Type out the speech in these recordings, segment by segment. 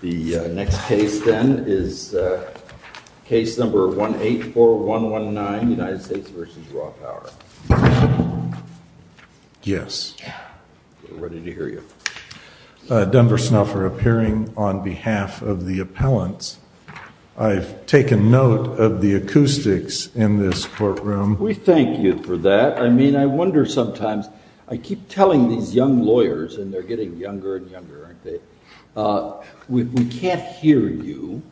The next case then is case number 184-119 United States v. RaPower. Yes. We're ready to hear you. Denver Snuffer appearing on behalf of the appellants. I've taken note of the acoustics in this courtroom. We thank you for that. I mean I wonder sometimes, I can't hear you.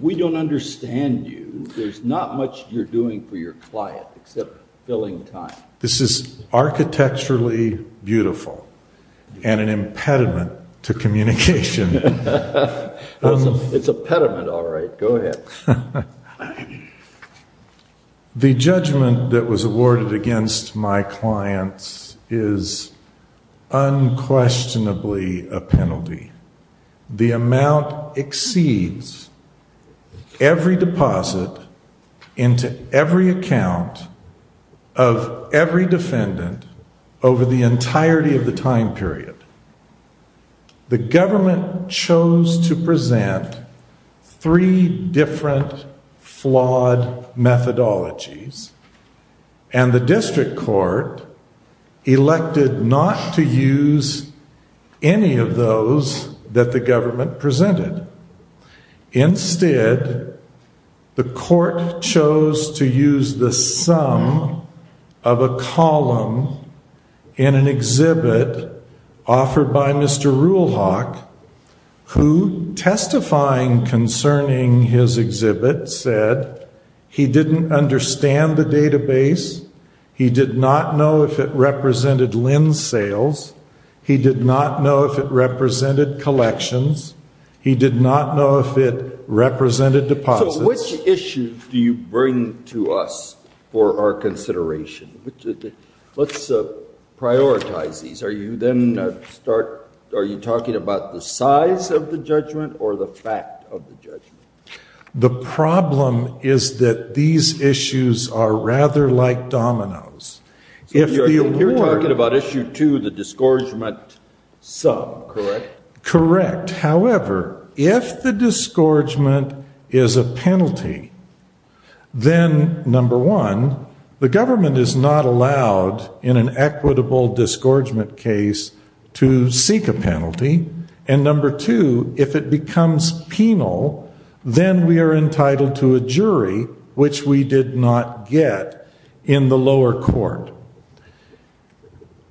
We don't understand you. There's not much you're doing for your client except filling time. This is architecturally beautiful and an impediment to communication. It's a pediment all right, go ahead. The judgment that was awarded against my clients is unquestionably a penalty. The amount exceeds every deposit into every account of every defendant over the entirety of the time period. The government chose to present three different flawed methodologies and the district court elected not to use any of those that the government presented. Instead the court chose to use the sum of a column in an He didn't understand the database. He did not know if it represented lens sales. He did not know if it represented collections. He did not know if it represented deposits. So which issues do you bring to us for our consideration? Let's prioritize these. Are you then start, are you talking about the size of the judgment or the fact of the judgment? The problem is that these issues are rather like dominoes. You're talking about issue two, the disgorgement sum, correct? Correct. However, if the disgorgement is a penalty, then number one, the government is not allowed in an equitable disgorgement case to seek a Then we are entitled to a jury, which we did not get in the lower court.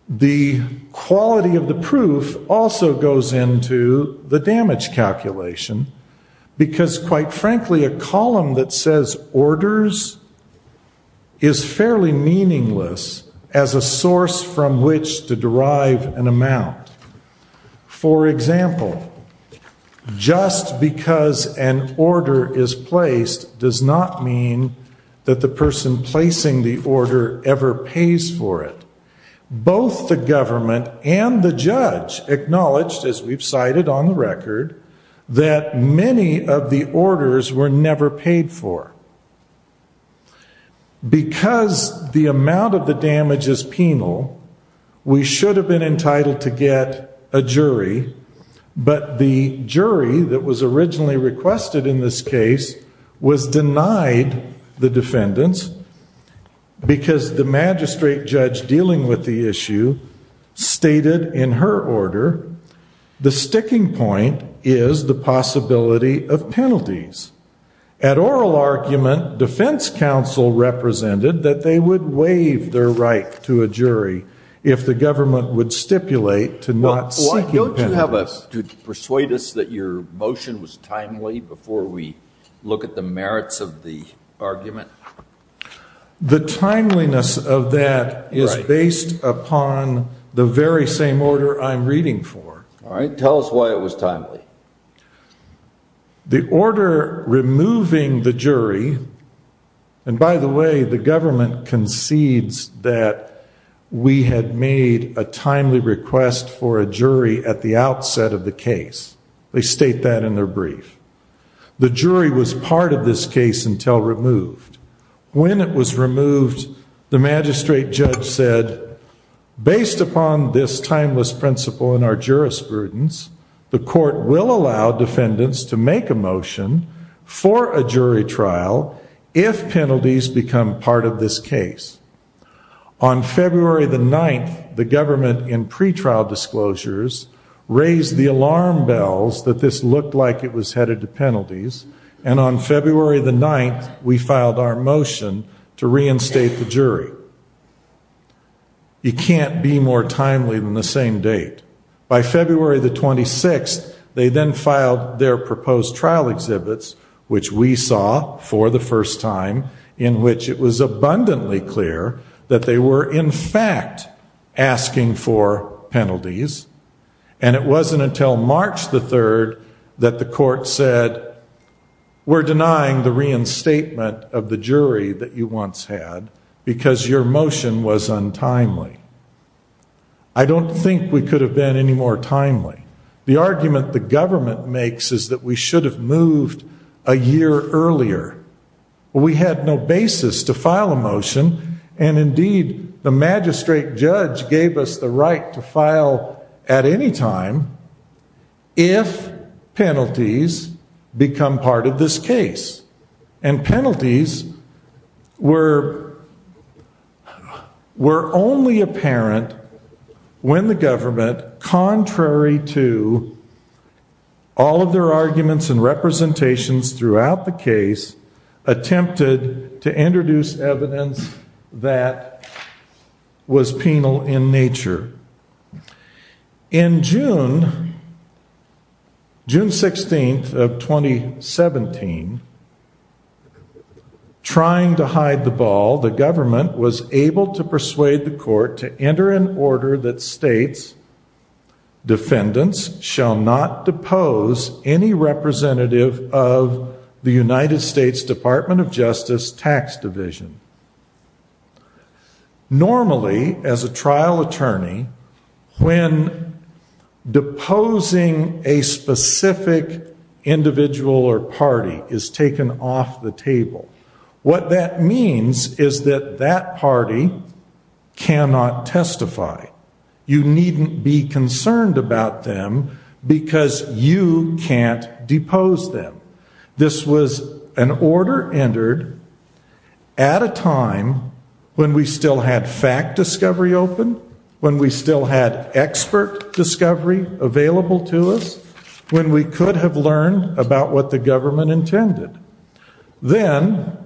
The quality of the proof also goes into the damage calculation because quite frankly, a column that says an order is placed does not mean that the person placing the order ever pays for it. Both the government and the judge acknowledged, as we've cited on the record, that many of the orders were never paid for because the amount of the damage is penal. We should have been entitled to get a jury, but the jury that was originally requested in this case was denied the defendants because the magistrate judge dealing with the issue stated in her order, the sticking point is the possibility of penalties. At oral argument, defense counsel represented that they would waive their right to a jury if the government would stipulate to not seek a penalty. Don't you have a to persuade us that your motion was timely before we look at the merits of the argument, the timeliness of that is based upon the very same order I'm reading for. All right, tell us why it was timely, the order removing the jury and by the way, the government concedes that we had made a timely request for a jury at the outset of the case. They state that in their brief. The jury was part of this case until removed. When it was removed, the magistrate judge said, based upon this timeless principle in our jurisprudence, the court will allow defendants to make a motion for a jury trial if penalties become part of this case. On February the 9th, the government in pretrial disclosures raised the alarm bells that this looked like it was headed to penalties and on February the 9th, we filed our motion to reinstate the jury. You can't be more timely than the same date. By February the 26th, they then filed their proposed trial exhibits, which we saw for the first time, in which it was abundantly clear that they were, in fact, asking for penalties and it wasn't until March the 3rd that the court said, we're denying the reinstatement of the jury that you once had because you didn't have the right to a jury trial. Your motion was untimely. I don't think we could have been any more timely. The argument the government makes is that we should have moved a year earlier. We had no basis to file a motion and, indeed, the magistrate judge gave us the right to file at any time if penalties become part of this case and penalties were only apparent when the government, contrary to all of their arguments and representations throughout the case, attempted to introduce evidence that was penal in nature. In June, June 16th of 2017, trying to hide the ball, the government was able to persuade the court to enter an order that states' defendants shall not depose any representative of the United States Department of Justice Tax Division. Normally, as a trial attorney, when deposing a specific individual or party is taken off the table, what that means is that that party cannot testify. You needn't be concerned about them because you can't depose them. This was an order entered at a time when we still had fact discovery open, when we still had expert discovery available to us, when we could have learned about what the government intended. Then,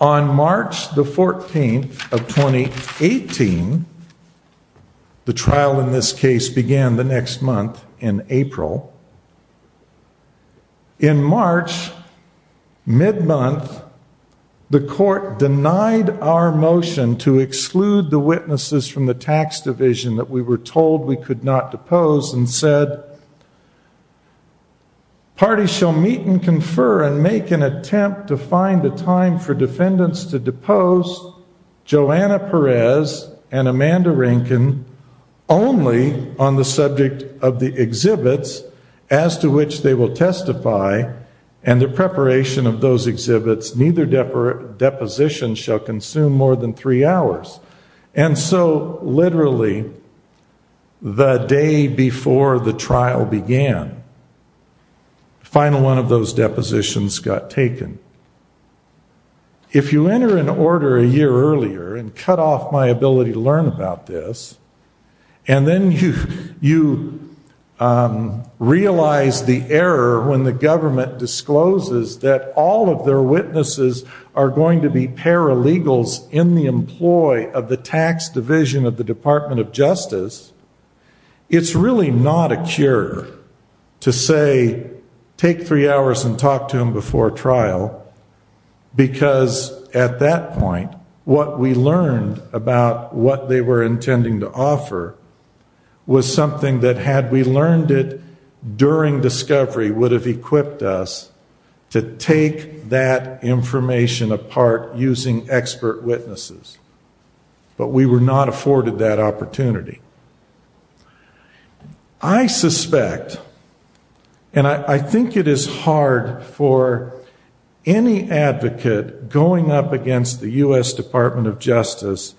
on March the 14th of 2018, the trial in this case began the next month in April, in March, mid-month, the court denied our motion to exclude the witnesses from the tax division that we were told we could not depose and said, parties shall meet and confer and make an attempt to find the time for defendants to depose Joanna Perez and Amanda Rankin only on the subject of the exhibits as to which they will testify and the preparation of those exhibits, neither deposition shall consume more than three hours. And so, literally, the day before the trial began, the final one of those depositions got taken. If you enter an order a year earlier and cut off my ability to learn about this, and then you realize the error when the government discloses that all of their witnesses are going to be paralegals in the employ of the tax division of the Department of Justice, it's really not a cure to say, take three hours and talk to them before trial, because at that point, what we learned about what they were intending to offer was something that had we learned it during discovery would have equipped us to take that information apart using expert witnesses, but we were not afforded that opportunity. I suspect, and I think it is hard for any advocate going up against the U.S. Department of Justice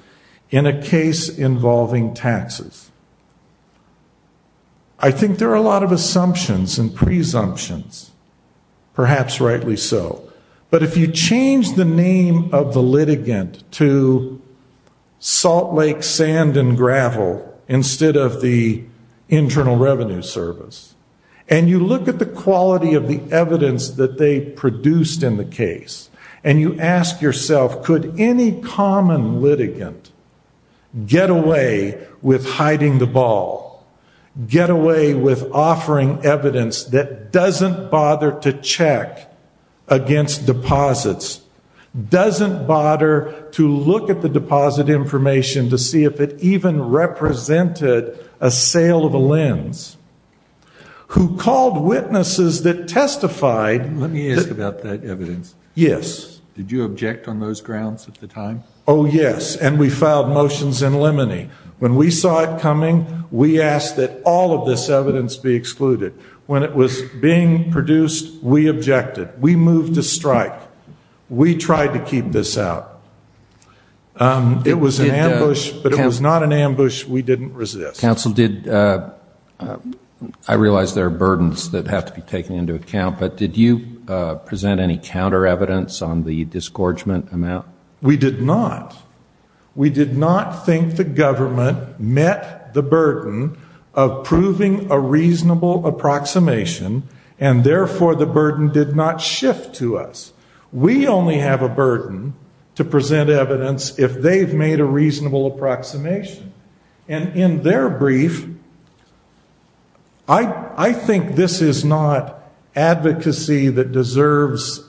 in a case involving taxes. I think there are a lot of assumptions and presumptions, perhaps rightly so, but if you change the name of the litigant to Salt Lake Sand and Gravel instead of the Internal Revenue Service, and you look at the quality of the evidence that they produced in the case, and you ask yourself, could any common litigant get away with hiding the ball, get away with offering evidence that doesn't bother to check against deposits, doesn't bother to look at the deposit information to see if it even represented a sale of a lens, who called witnesses that testified. Let me ask about that evidence. Yes. Did you object on those grounds at the time? Oh, yes, and we filed motions in limine. When we saw it coming, we asked that all of this evidence be excluded. When it was being produced, we objected. We moved to strike. We tried to keep this out. It was an ambush, but it was not an ambush we didn't resist. I realize there are burdens that have to be taken into account, but did you present any counter evidence on the disgorgement amount? We did not. We did not think the government met the burden of proving a reasonable approximation, and therefore the burden did not shift to us. We only have a burden to present evidence if they've made a reasonable approximation. And in their brief, I think this is not advocacy that deserves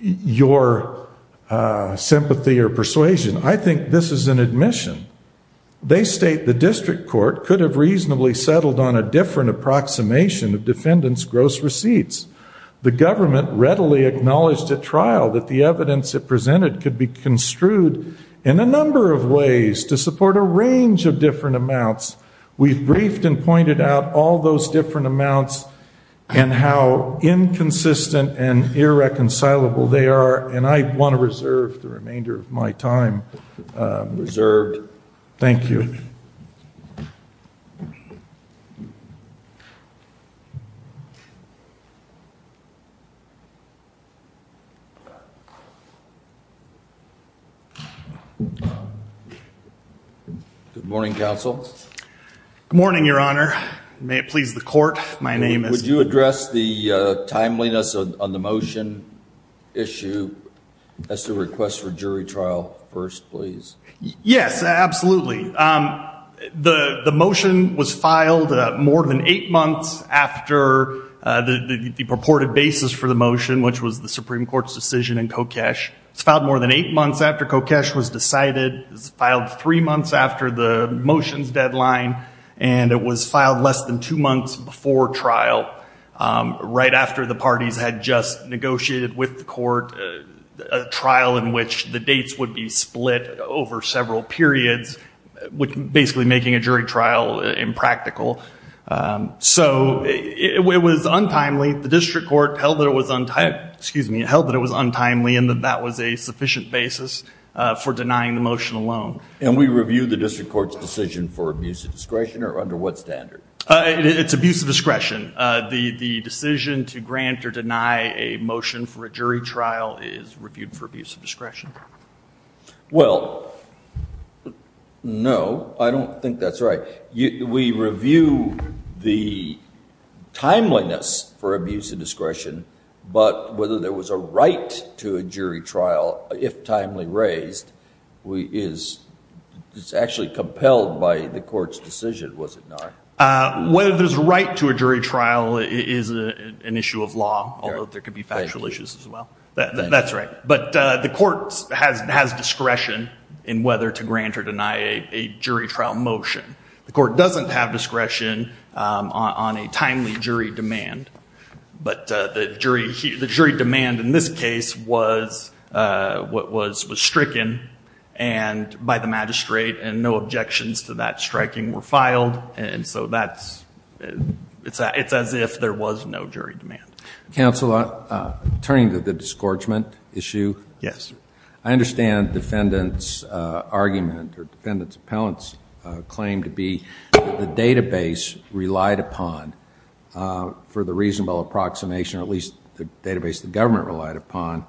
your sympathy or persuasion. I think this is an admission. They state the district court could have reasonably settled on a different approximation of defendants' gross receipts. The government readily acknowledged at trial that the evidence it presented could be construed in a number of ways to support a range of different amounts. We've briefed and pointed out all those different amounts and how inconsistent and irreconcilable they are. And I want to reserve the remainder of my time reserved. Thank you. Good morning, counsel. Good morning, Your Honor. May it please the court, my name is... Would you address the timeliness on the motion issue as to request for jury trial first, please? Yes, absolutely. The motion was filed more than eight months after the purported basis for the motion, which was the Supreme Court's decision in Kokesh. It was filed more than eight months after Kokesh was decided. It was filed three months after the motion's deadline, and it was filed less than two months before trial, right after the parties had just negotiated with the court a trial in which the dates would be split over several periods. Basically making a jury trial impractical. So it was untimely. The district court held that it was untimely and that that was a sufficient basis for denying the motion alone. And we review the district court's decision for abuse of discretion or under what standard? It's abuse of discretion. The decision to grant or deny a motion for a jury trial is reviewed for abuse of discretion. Well, no, I don't think that's right. We review the timeliness for abuse of discretion, but whether there was a right to a jury trial, if timely raised, is actually compelled by the court's decision, was it not? Whether there's a right to a jury trial is an issue of law, although there could be factual issues as well. That's right. But the court has discretion in whether to grant or deny a jury trial motion. The court doesn't have discretion on a timely jury demand. But the jury demand in this case was stricken by the magistrate, and no objections to that striking were filed. And so it's as if there was no jury demand. Counsel, turning to the disgorgement issue. Yes. I understand defendant's argument or defendant's appellant's claim to be the database relied upon for the reasonable approximation, or at least the database the government relied upon,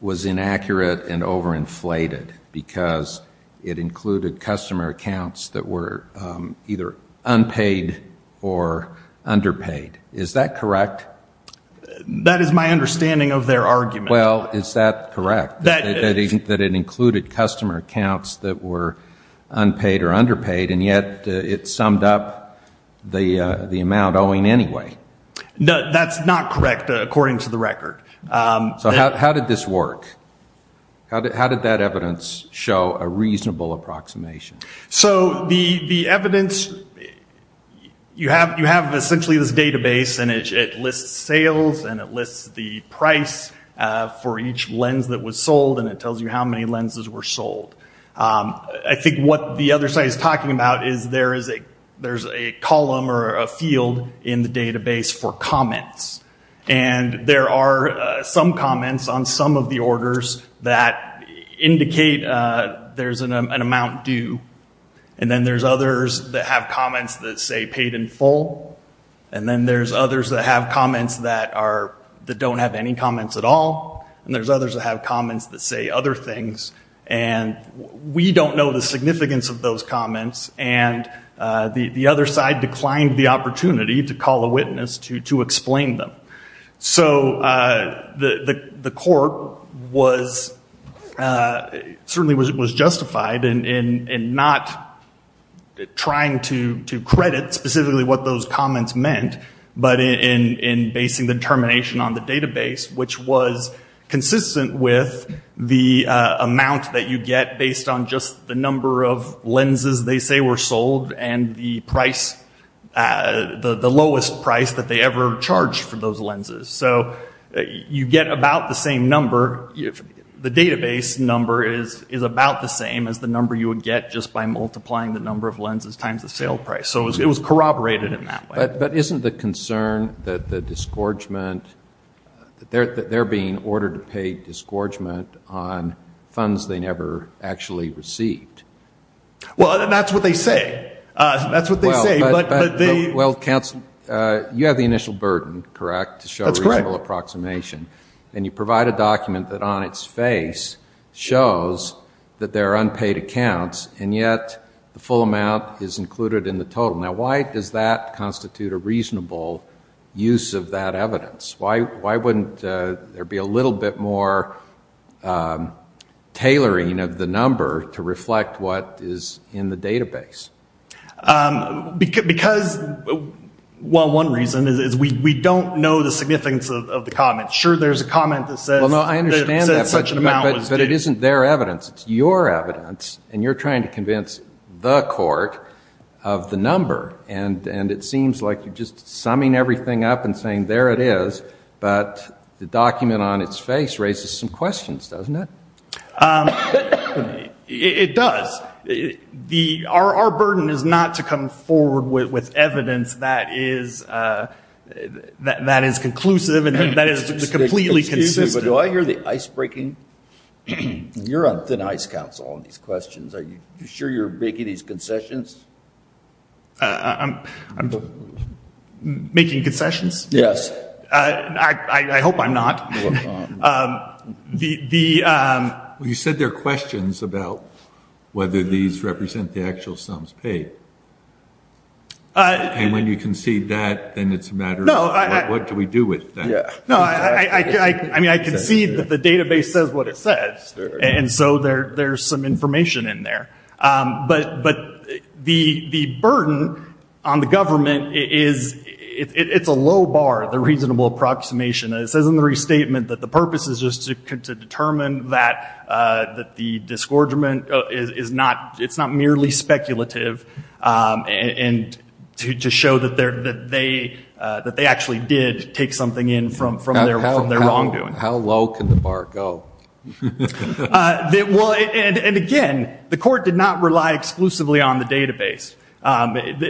was inaccurate and overinflated because it included customer accounts that were either unpaid or underpaid. Is that correct? That is my understanding of their argument. Well, is that correct, that it included customer accounts that were unpaid or underpaid, and yet it summed up the amount owing anyway? That's not correct, according to the record. So how did this work? How did that evidence show a reasonable approximation? So the evidence, you have essentially this database, and it lists sales, and it lists the price for each lens that was sold, and it tells you how many lenses were sold. I think what the other side is talking about is there's a column or a field in the database for comments. And there are some comments on some of the orders that indicate there's an amount due, and then there's others that have comments that say paid in full, and then there's others that have comments that don't have any comments at all, and there's others that have comments that say other things. And we don't know the significance of those comments, and the other side declined the opportunity to call a witness to explain them. So the court certainly was justified in not trying to credit specifically what those comments meant, but in basing the determination on the database, which was consistent with the amount that you get based on just the number of lenses they say were sold and the lowest price that they ever charged for those lenses. So you get about the same number. The database number is about the same as the number you would get just by multiplying the number of lenses times the sale price. So it was corroborated in that way. But isn't the concern that the disgorgement, that they're being ordered to pay disgorgement on funds they never actually received? Well, that's what they say. That's what they say, but they... Well, counsel, you have the initial burden, correct, to show a reasonable approximation, and you provide a document that on its face shows that there are unpaid accounts, and yet the full amount is included in the total. Now, why does that constitute a reasonable use of that evidence? Why wouldn't there be a little bit more tailoring of the number to reflect what is in the database? Because... Well, one reason is we don't know the significance of the comment. Sure, there's a comment that says... Well, no, I understand that, but it isn't their evidence. It's your evidence, and you're trying to convince the court of the number, and it seems like you're just summing everything up and saying, there it is, but the document on its face raises some questions, doesn't it? It does. Our burden is not to come forward with evidence that is conclusive and that is completely consistent. Excuse me, but do I hear the ice breaking? You're on thin ice, counsel, on these questions. Are you sure you're making these concessions? I'm making concessions? Yes. I hope I'm not. Well, you said there are questions about whether these represent the actual sums paid. And when you concede that, then it's a matter of what do we do with that? I concede that the database says what it says, and so there's some information in there. But the burden on the government is... It's a low bar, the reasonable approximation. It says in the restatement that the purpose is just to determine that the disgorgement is not... And to show that they actually did take something in from their wrongdoing. How low can the bar go? And again, the court did not rely exclusively on the database.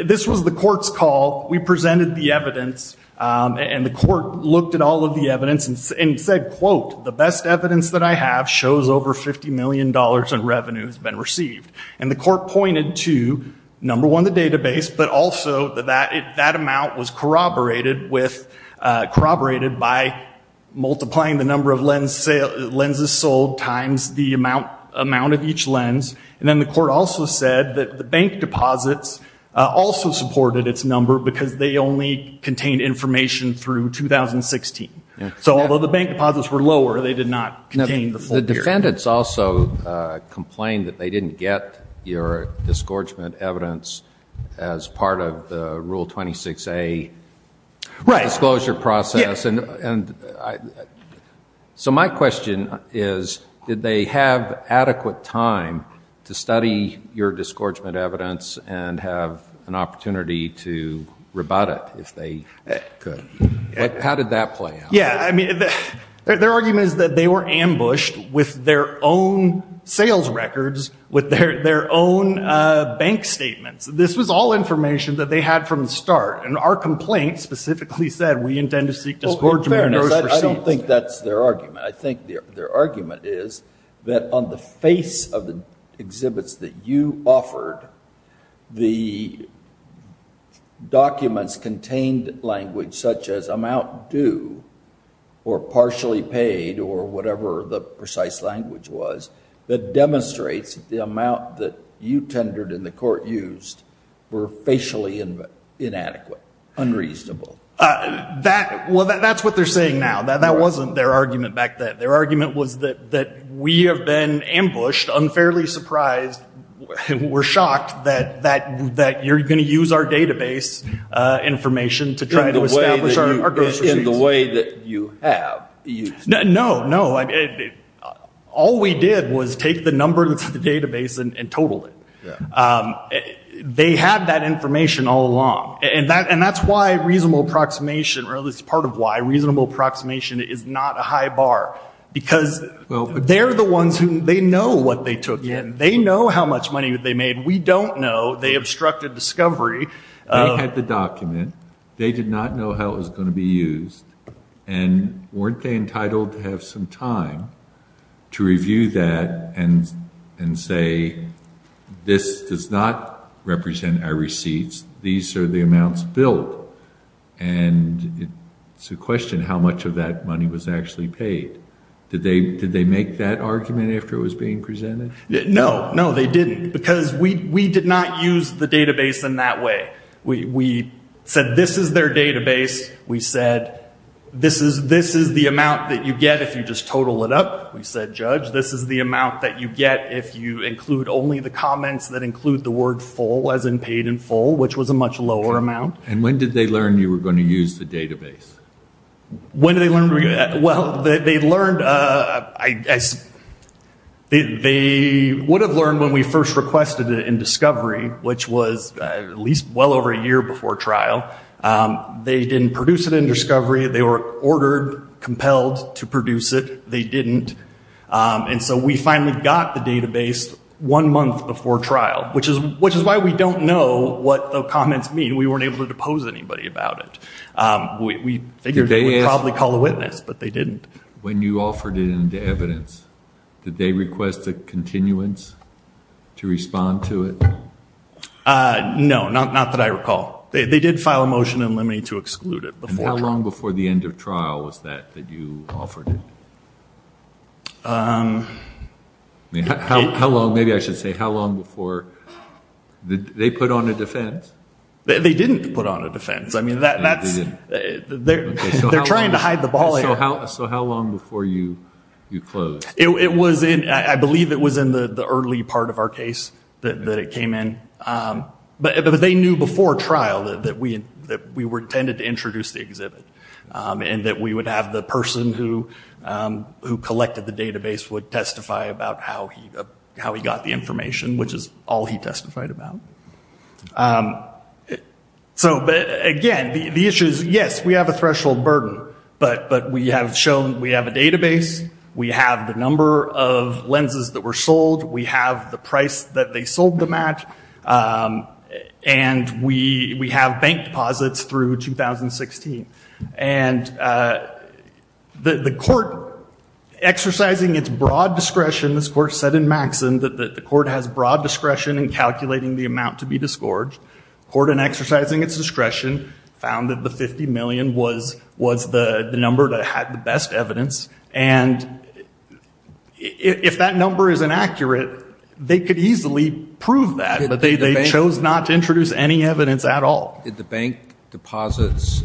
This was the court's call. We presented the evidence, and the court looked at all of the evidence and said, quote, the best evidence that I have shows over $50 million in revenue has been received. And the court pointed to, number one, the database, but also that that amount was corroborated by multiplying the number of lenses sold times the amount of each lens. And then the court also said that the bank deposits also supported its number because they only contained information through 2016. So although the bank deposits were lower, they did not contain the full period. The defendants also complained that they didn't get your disgorgement evidence as part of the Rule 26A disclosure process. So my question is, did they have adequate time to study your disgorgement evidence and have an opportunity to rebut it if they could? How did that play out? Their argument is that they were ambushed with their own sales records, with their own bank statements. This was all information that they had from the start, and our complaint specifically said we intend to seek disgorgement. Fairness, I don't think that's their argument. I think their argument is that on the face of the exhibits that you offered, the documents contained language such as amount due or partially paid or whatever the precise language was that demonstrates the amount that you tendered and the court used were facially inadequate, unreasonable. Well, that's what they're saying now. That wasn't their argument back then. Their argument was that we have been ambushed, unfairly surprised, we're shocked that you're going to use our database information to try to establish our gross receipts. In the way that you have used it. No, no. All we did was take the number that's in the database and total it. They had that information all along, and that's why reasonable approximation, or at least part of why reasonable approximation is not a high bar, because they're the ones who, they know what they took in. They know how much money they made. We don't know. They obstructed discovery. They had the document. They did not know how it was going to be used. And weren't they entitled to have some time to review that and say, this does not represent our receipts. These are the amounts billed. And it's a question how much of that money was actually paid. Did they make that argument after it was being presented? No, no, they didn't, because we did not use the database in that way. We said this is their database. We said this is the amount that you get if you just total it up. We said, Judge, this is the amount that you get if you include only the comments that include the word full, as in paid in full, which was a much lower amount. And when did they learn you were going to use the database? When did they learn? Well, they learned, I guess, they would have learned when we first requested it in discovery, which was at least well over a year before trial. They didn't produce it in discovery. They were ordered, compelled to produce it. They didn't. And so we finally got the database one month before trial, which is why we don't know what the comments mean. We weren't able to depose anybody about it. We figured they would probably call the witness, but they didn't. When you offered it into evidence, did they request a continuance to respond to it? No, not that I recall. They did file a motion in limine to exclude it before trial. And how long before the end of trial was that that you offered it? Maybe I should say how long before... They put on a defense? They didn't put on a defense. They're trying to hide the ball here. So how long before you closed? I believe it was in the early part of our case that it came in. But they knew before trial that we were intended to introduce the exhibit and that we would have the person who collected the database would testify about how he got the information, which is all he testified about. So, again, the issue is, yes, we have a threshold burden, but we have shown we have a database, we have the number of lenses that were sold, we have the price that they sold them at, and we have bank deposits through 2016. And the court, exercising its broad discretion, this court said in Maxon that the court has broad discretion in calculating the amount to be disgorged. The court, in exercising its discretion, found that the $50 million was the number that had the best evidence. And if that number is inaccurate, they could easily prove that, but they chose not to introduce any evidence at all. Did the bank deposits...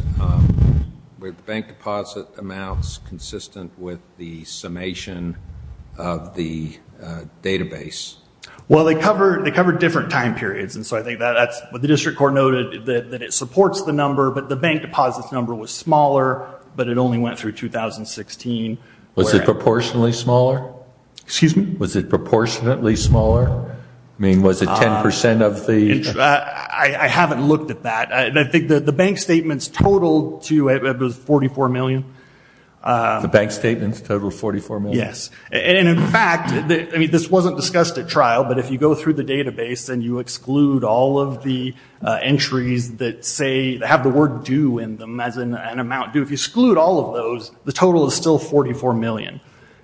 Were the bank deposit amounts consistent with the summation of the database? Well, they cover different time periods, and so I think that's what the district court noted, that it supports the number, but the bank deposits number was smaller, but it only went through 2016. Was it proportionally smaller? Excuse me? Was it proportionately smaller? I mean, was it 10% of the... I haven't looked at that. I think the bank statements totaled to... It was $44 million. The bank statements totaled $44 million? Yes. And, in fact... I mean, this wasn't discussed at trial, but if you go through the database and you exclude all of the entries that say... that have the word due in them, as in an amount due, if you exclude all of those, the total is still $44 million.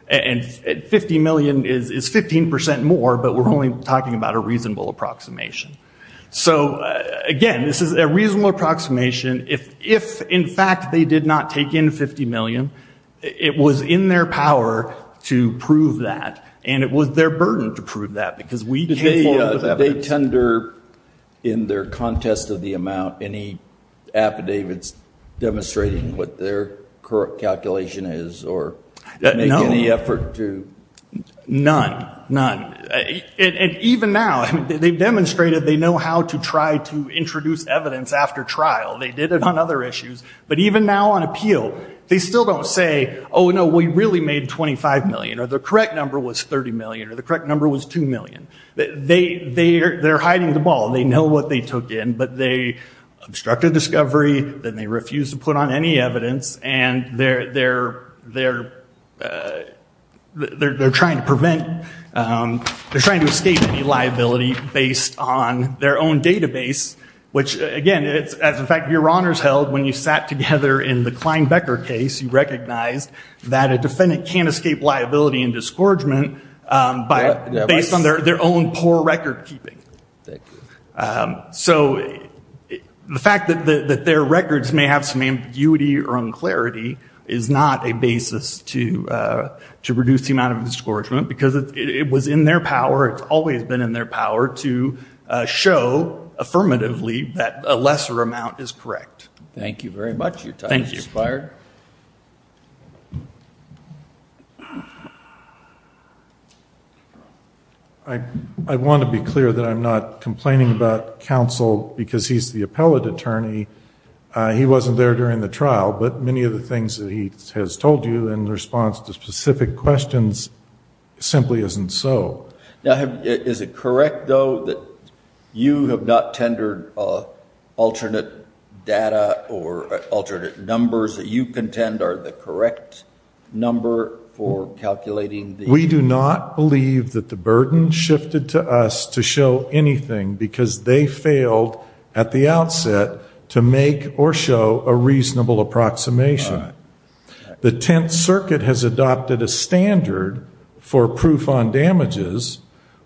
And $50 million is 15% more, but we're only talking about a reasonable approximation. So, again, this is a reasonable approximation. If, in fact, they did not take in $50 million, it was in their power to prove that, and it was their burden to prove that, because we came forward with evidence. Did they tender, in their contest of the amount, any affidavits demonstrating what their calculation is or make any effort to...? None. None. And even now, they've demonstrated they know how to try to introduce evidence after trial. They did it on other issues. But even now, on appeal, they still don't say, oh, no, we really made $25 million, or the correct number was $30 million, or the correct number was $2 million. They're hiding the ball. They know what they took in, but they obstructed discovery, then they refused to put on any evidence, and they're... they're trying to prevent... they're trying to escape any liability based on their own database, which, again, it's... When you sat together in the Klein-Becker case, you recognized that a defendant can't escape liability and discouragement based on their own poor record-keeping. Thank you. So the fact that their records may have some ambiguity or unclarity is not a basis to reduce the amount of discouragement, because it was in their power, it's always been in their power, to show, affirmatively, that a lesser amount is correct. Thank you very much. Your time has expired. I want to be clear that I'm not complaining about counsel because he's the appellate attorney. He wasn't there during the trial, but many of the things that he has told you in response to specific questions simply isn't so. Now, is it correct, though, that you have not tendered alternate data or alternate numbers that you contend are the correct number for calculating the... We do not believe that the burden shifted to us to show anything because they failed at the outset to make or show a reasonable approximation. The Tenth Circuit has adopted a standard for proof on damages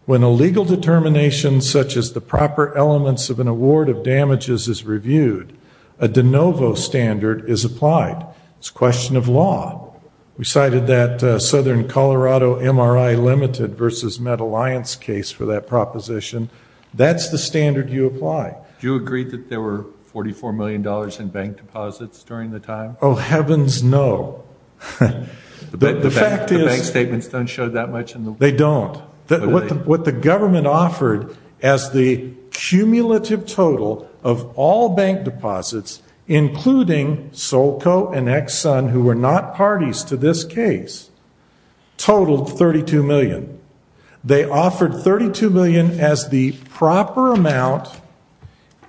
when a legal determination such as the proper elements of an award of damages is reviewed, a de novo standard is applied. It's a question of law. We cited that Southern Colorado MRI Limited v. Med Alliance case for that proposition. That's the standard you apply. Do you agree that there were $44 million in bank deposits during the time? Oh, heavens no. The fact is... The bank statements don't show that much... What the government offered as the cumulative total of all bank deposits, including Solco and Exxon, who were not parties to this case, totaled $32 million. They offered $32 million as the proper amount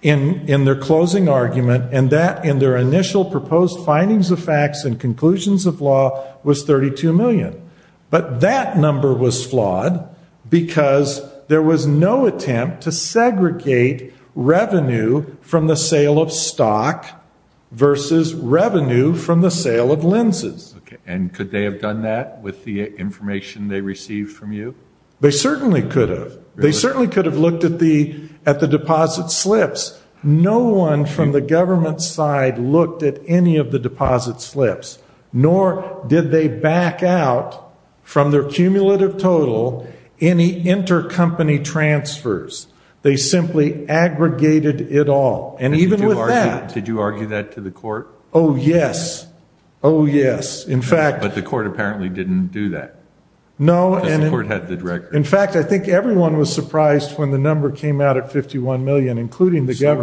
in their closing argument, and that, in their initial proposed findings of facts and conclusions of law, was $32 million. But that number was flawed because there was no attempt to segregate revenue from the sale of stock versus revenue from the sale of lenses. And could they have done that with the information they received from you? They certainly could have. They certainly could have looked at the deposit slips. No one from the government side looked at any of the deposit slips, nor did they back out from their cumulative total any intercompany transfers. They simply aggregated it all. And even with that... Did you argue that to the court? Oh, yes. Oh, yes. In fact... But the court apparently didn't do that. No, and... In fact, I think everyone was surprised when the number came out at $51 million,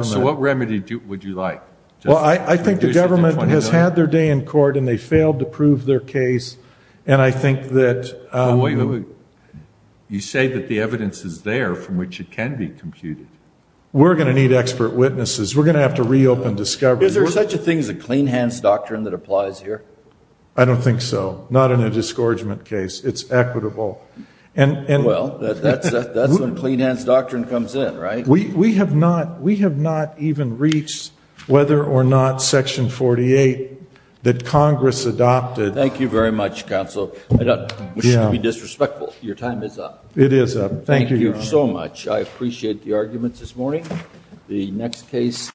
So what remedy would you like? Well, I think the government has had their day in court and they failed to prove their case. And I think that... You say that the evidence is there from which it can be computed. We're going to need expert witnesses. We're going to have to reopen discovery. Is there such a thing as a clean-hands doctrine that applies here? I don't think so. Not in a disgorgement case. It's equitable. Well, that's when clean-hands doctrine comes in, right? We have not... We have not even reached whether or not Section 48 that Congress adopted... Thank you very much, Counsel. I don't wish to be disrespectful. Your time is up. It is up. Thank you, Your Honor. Thank you so much. I appreciate the arguments this morning. The next case...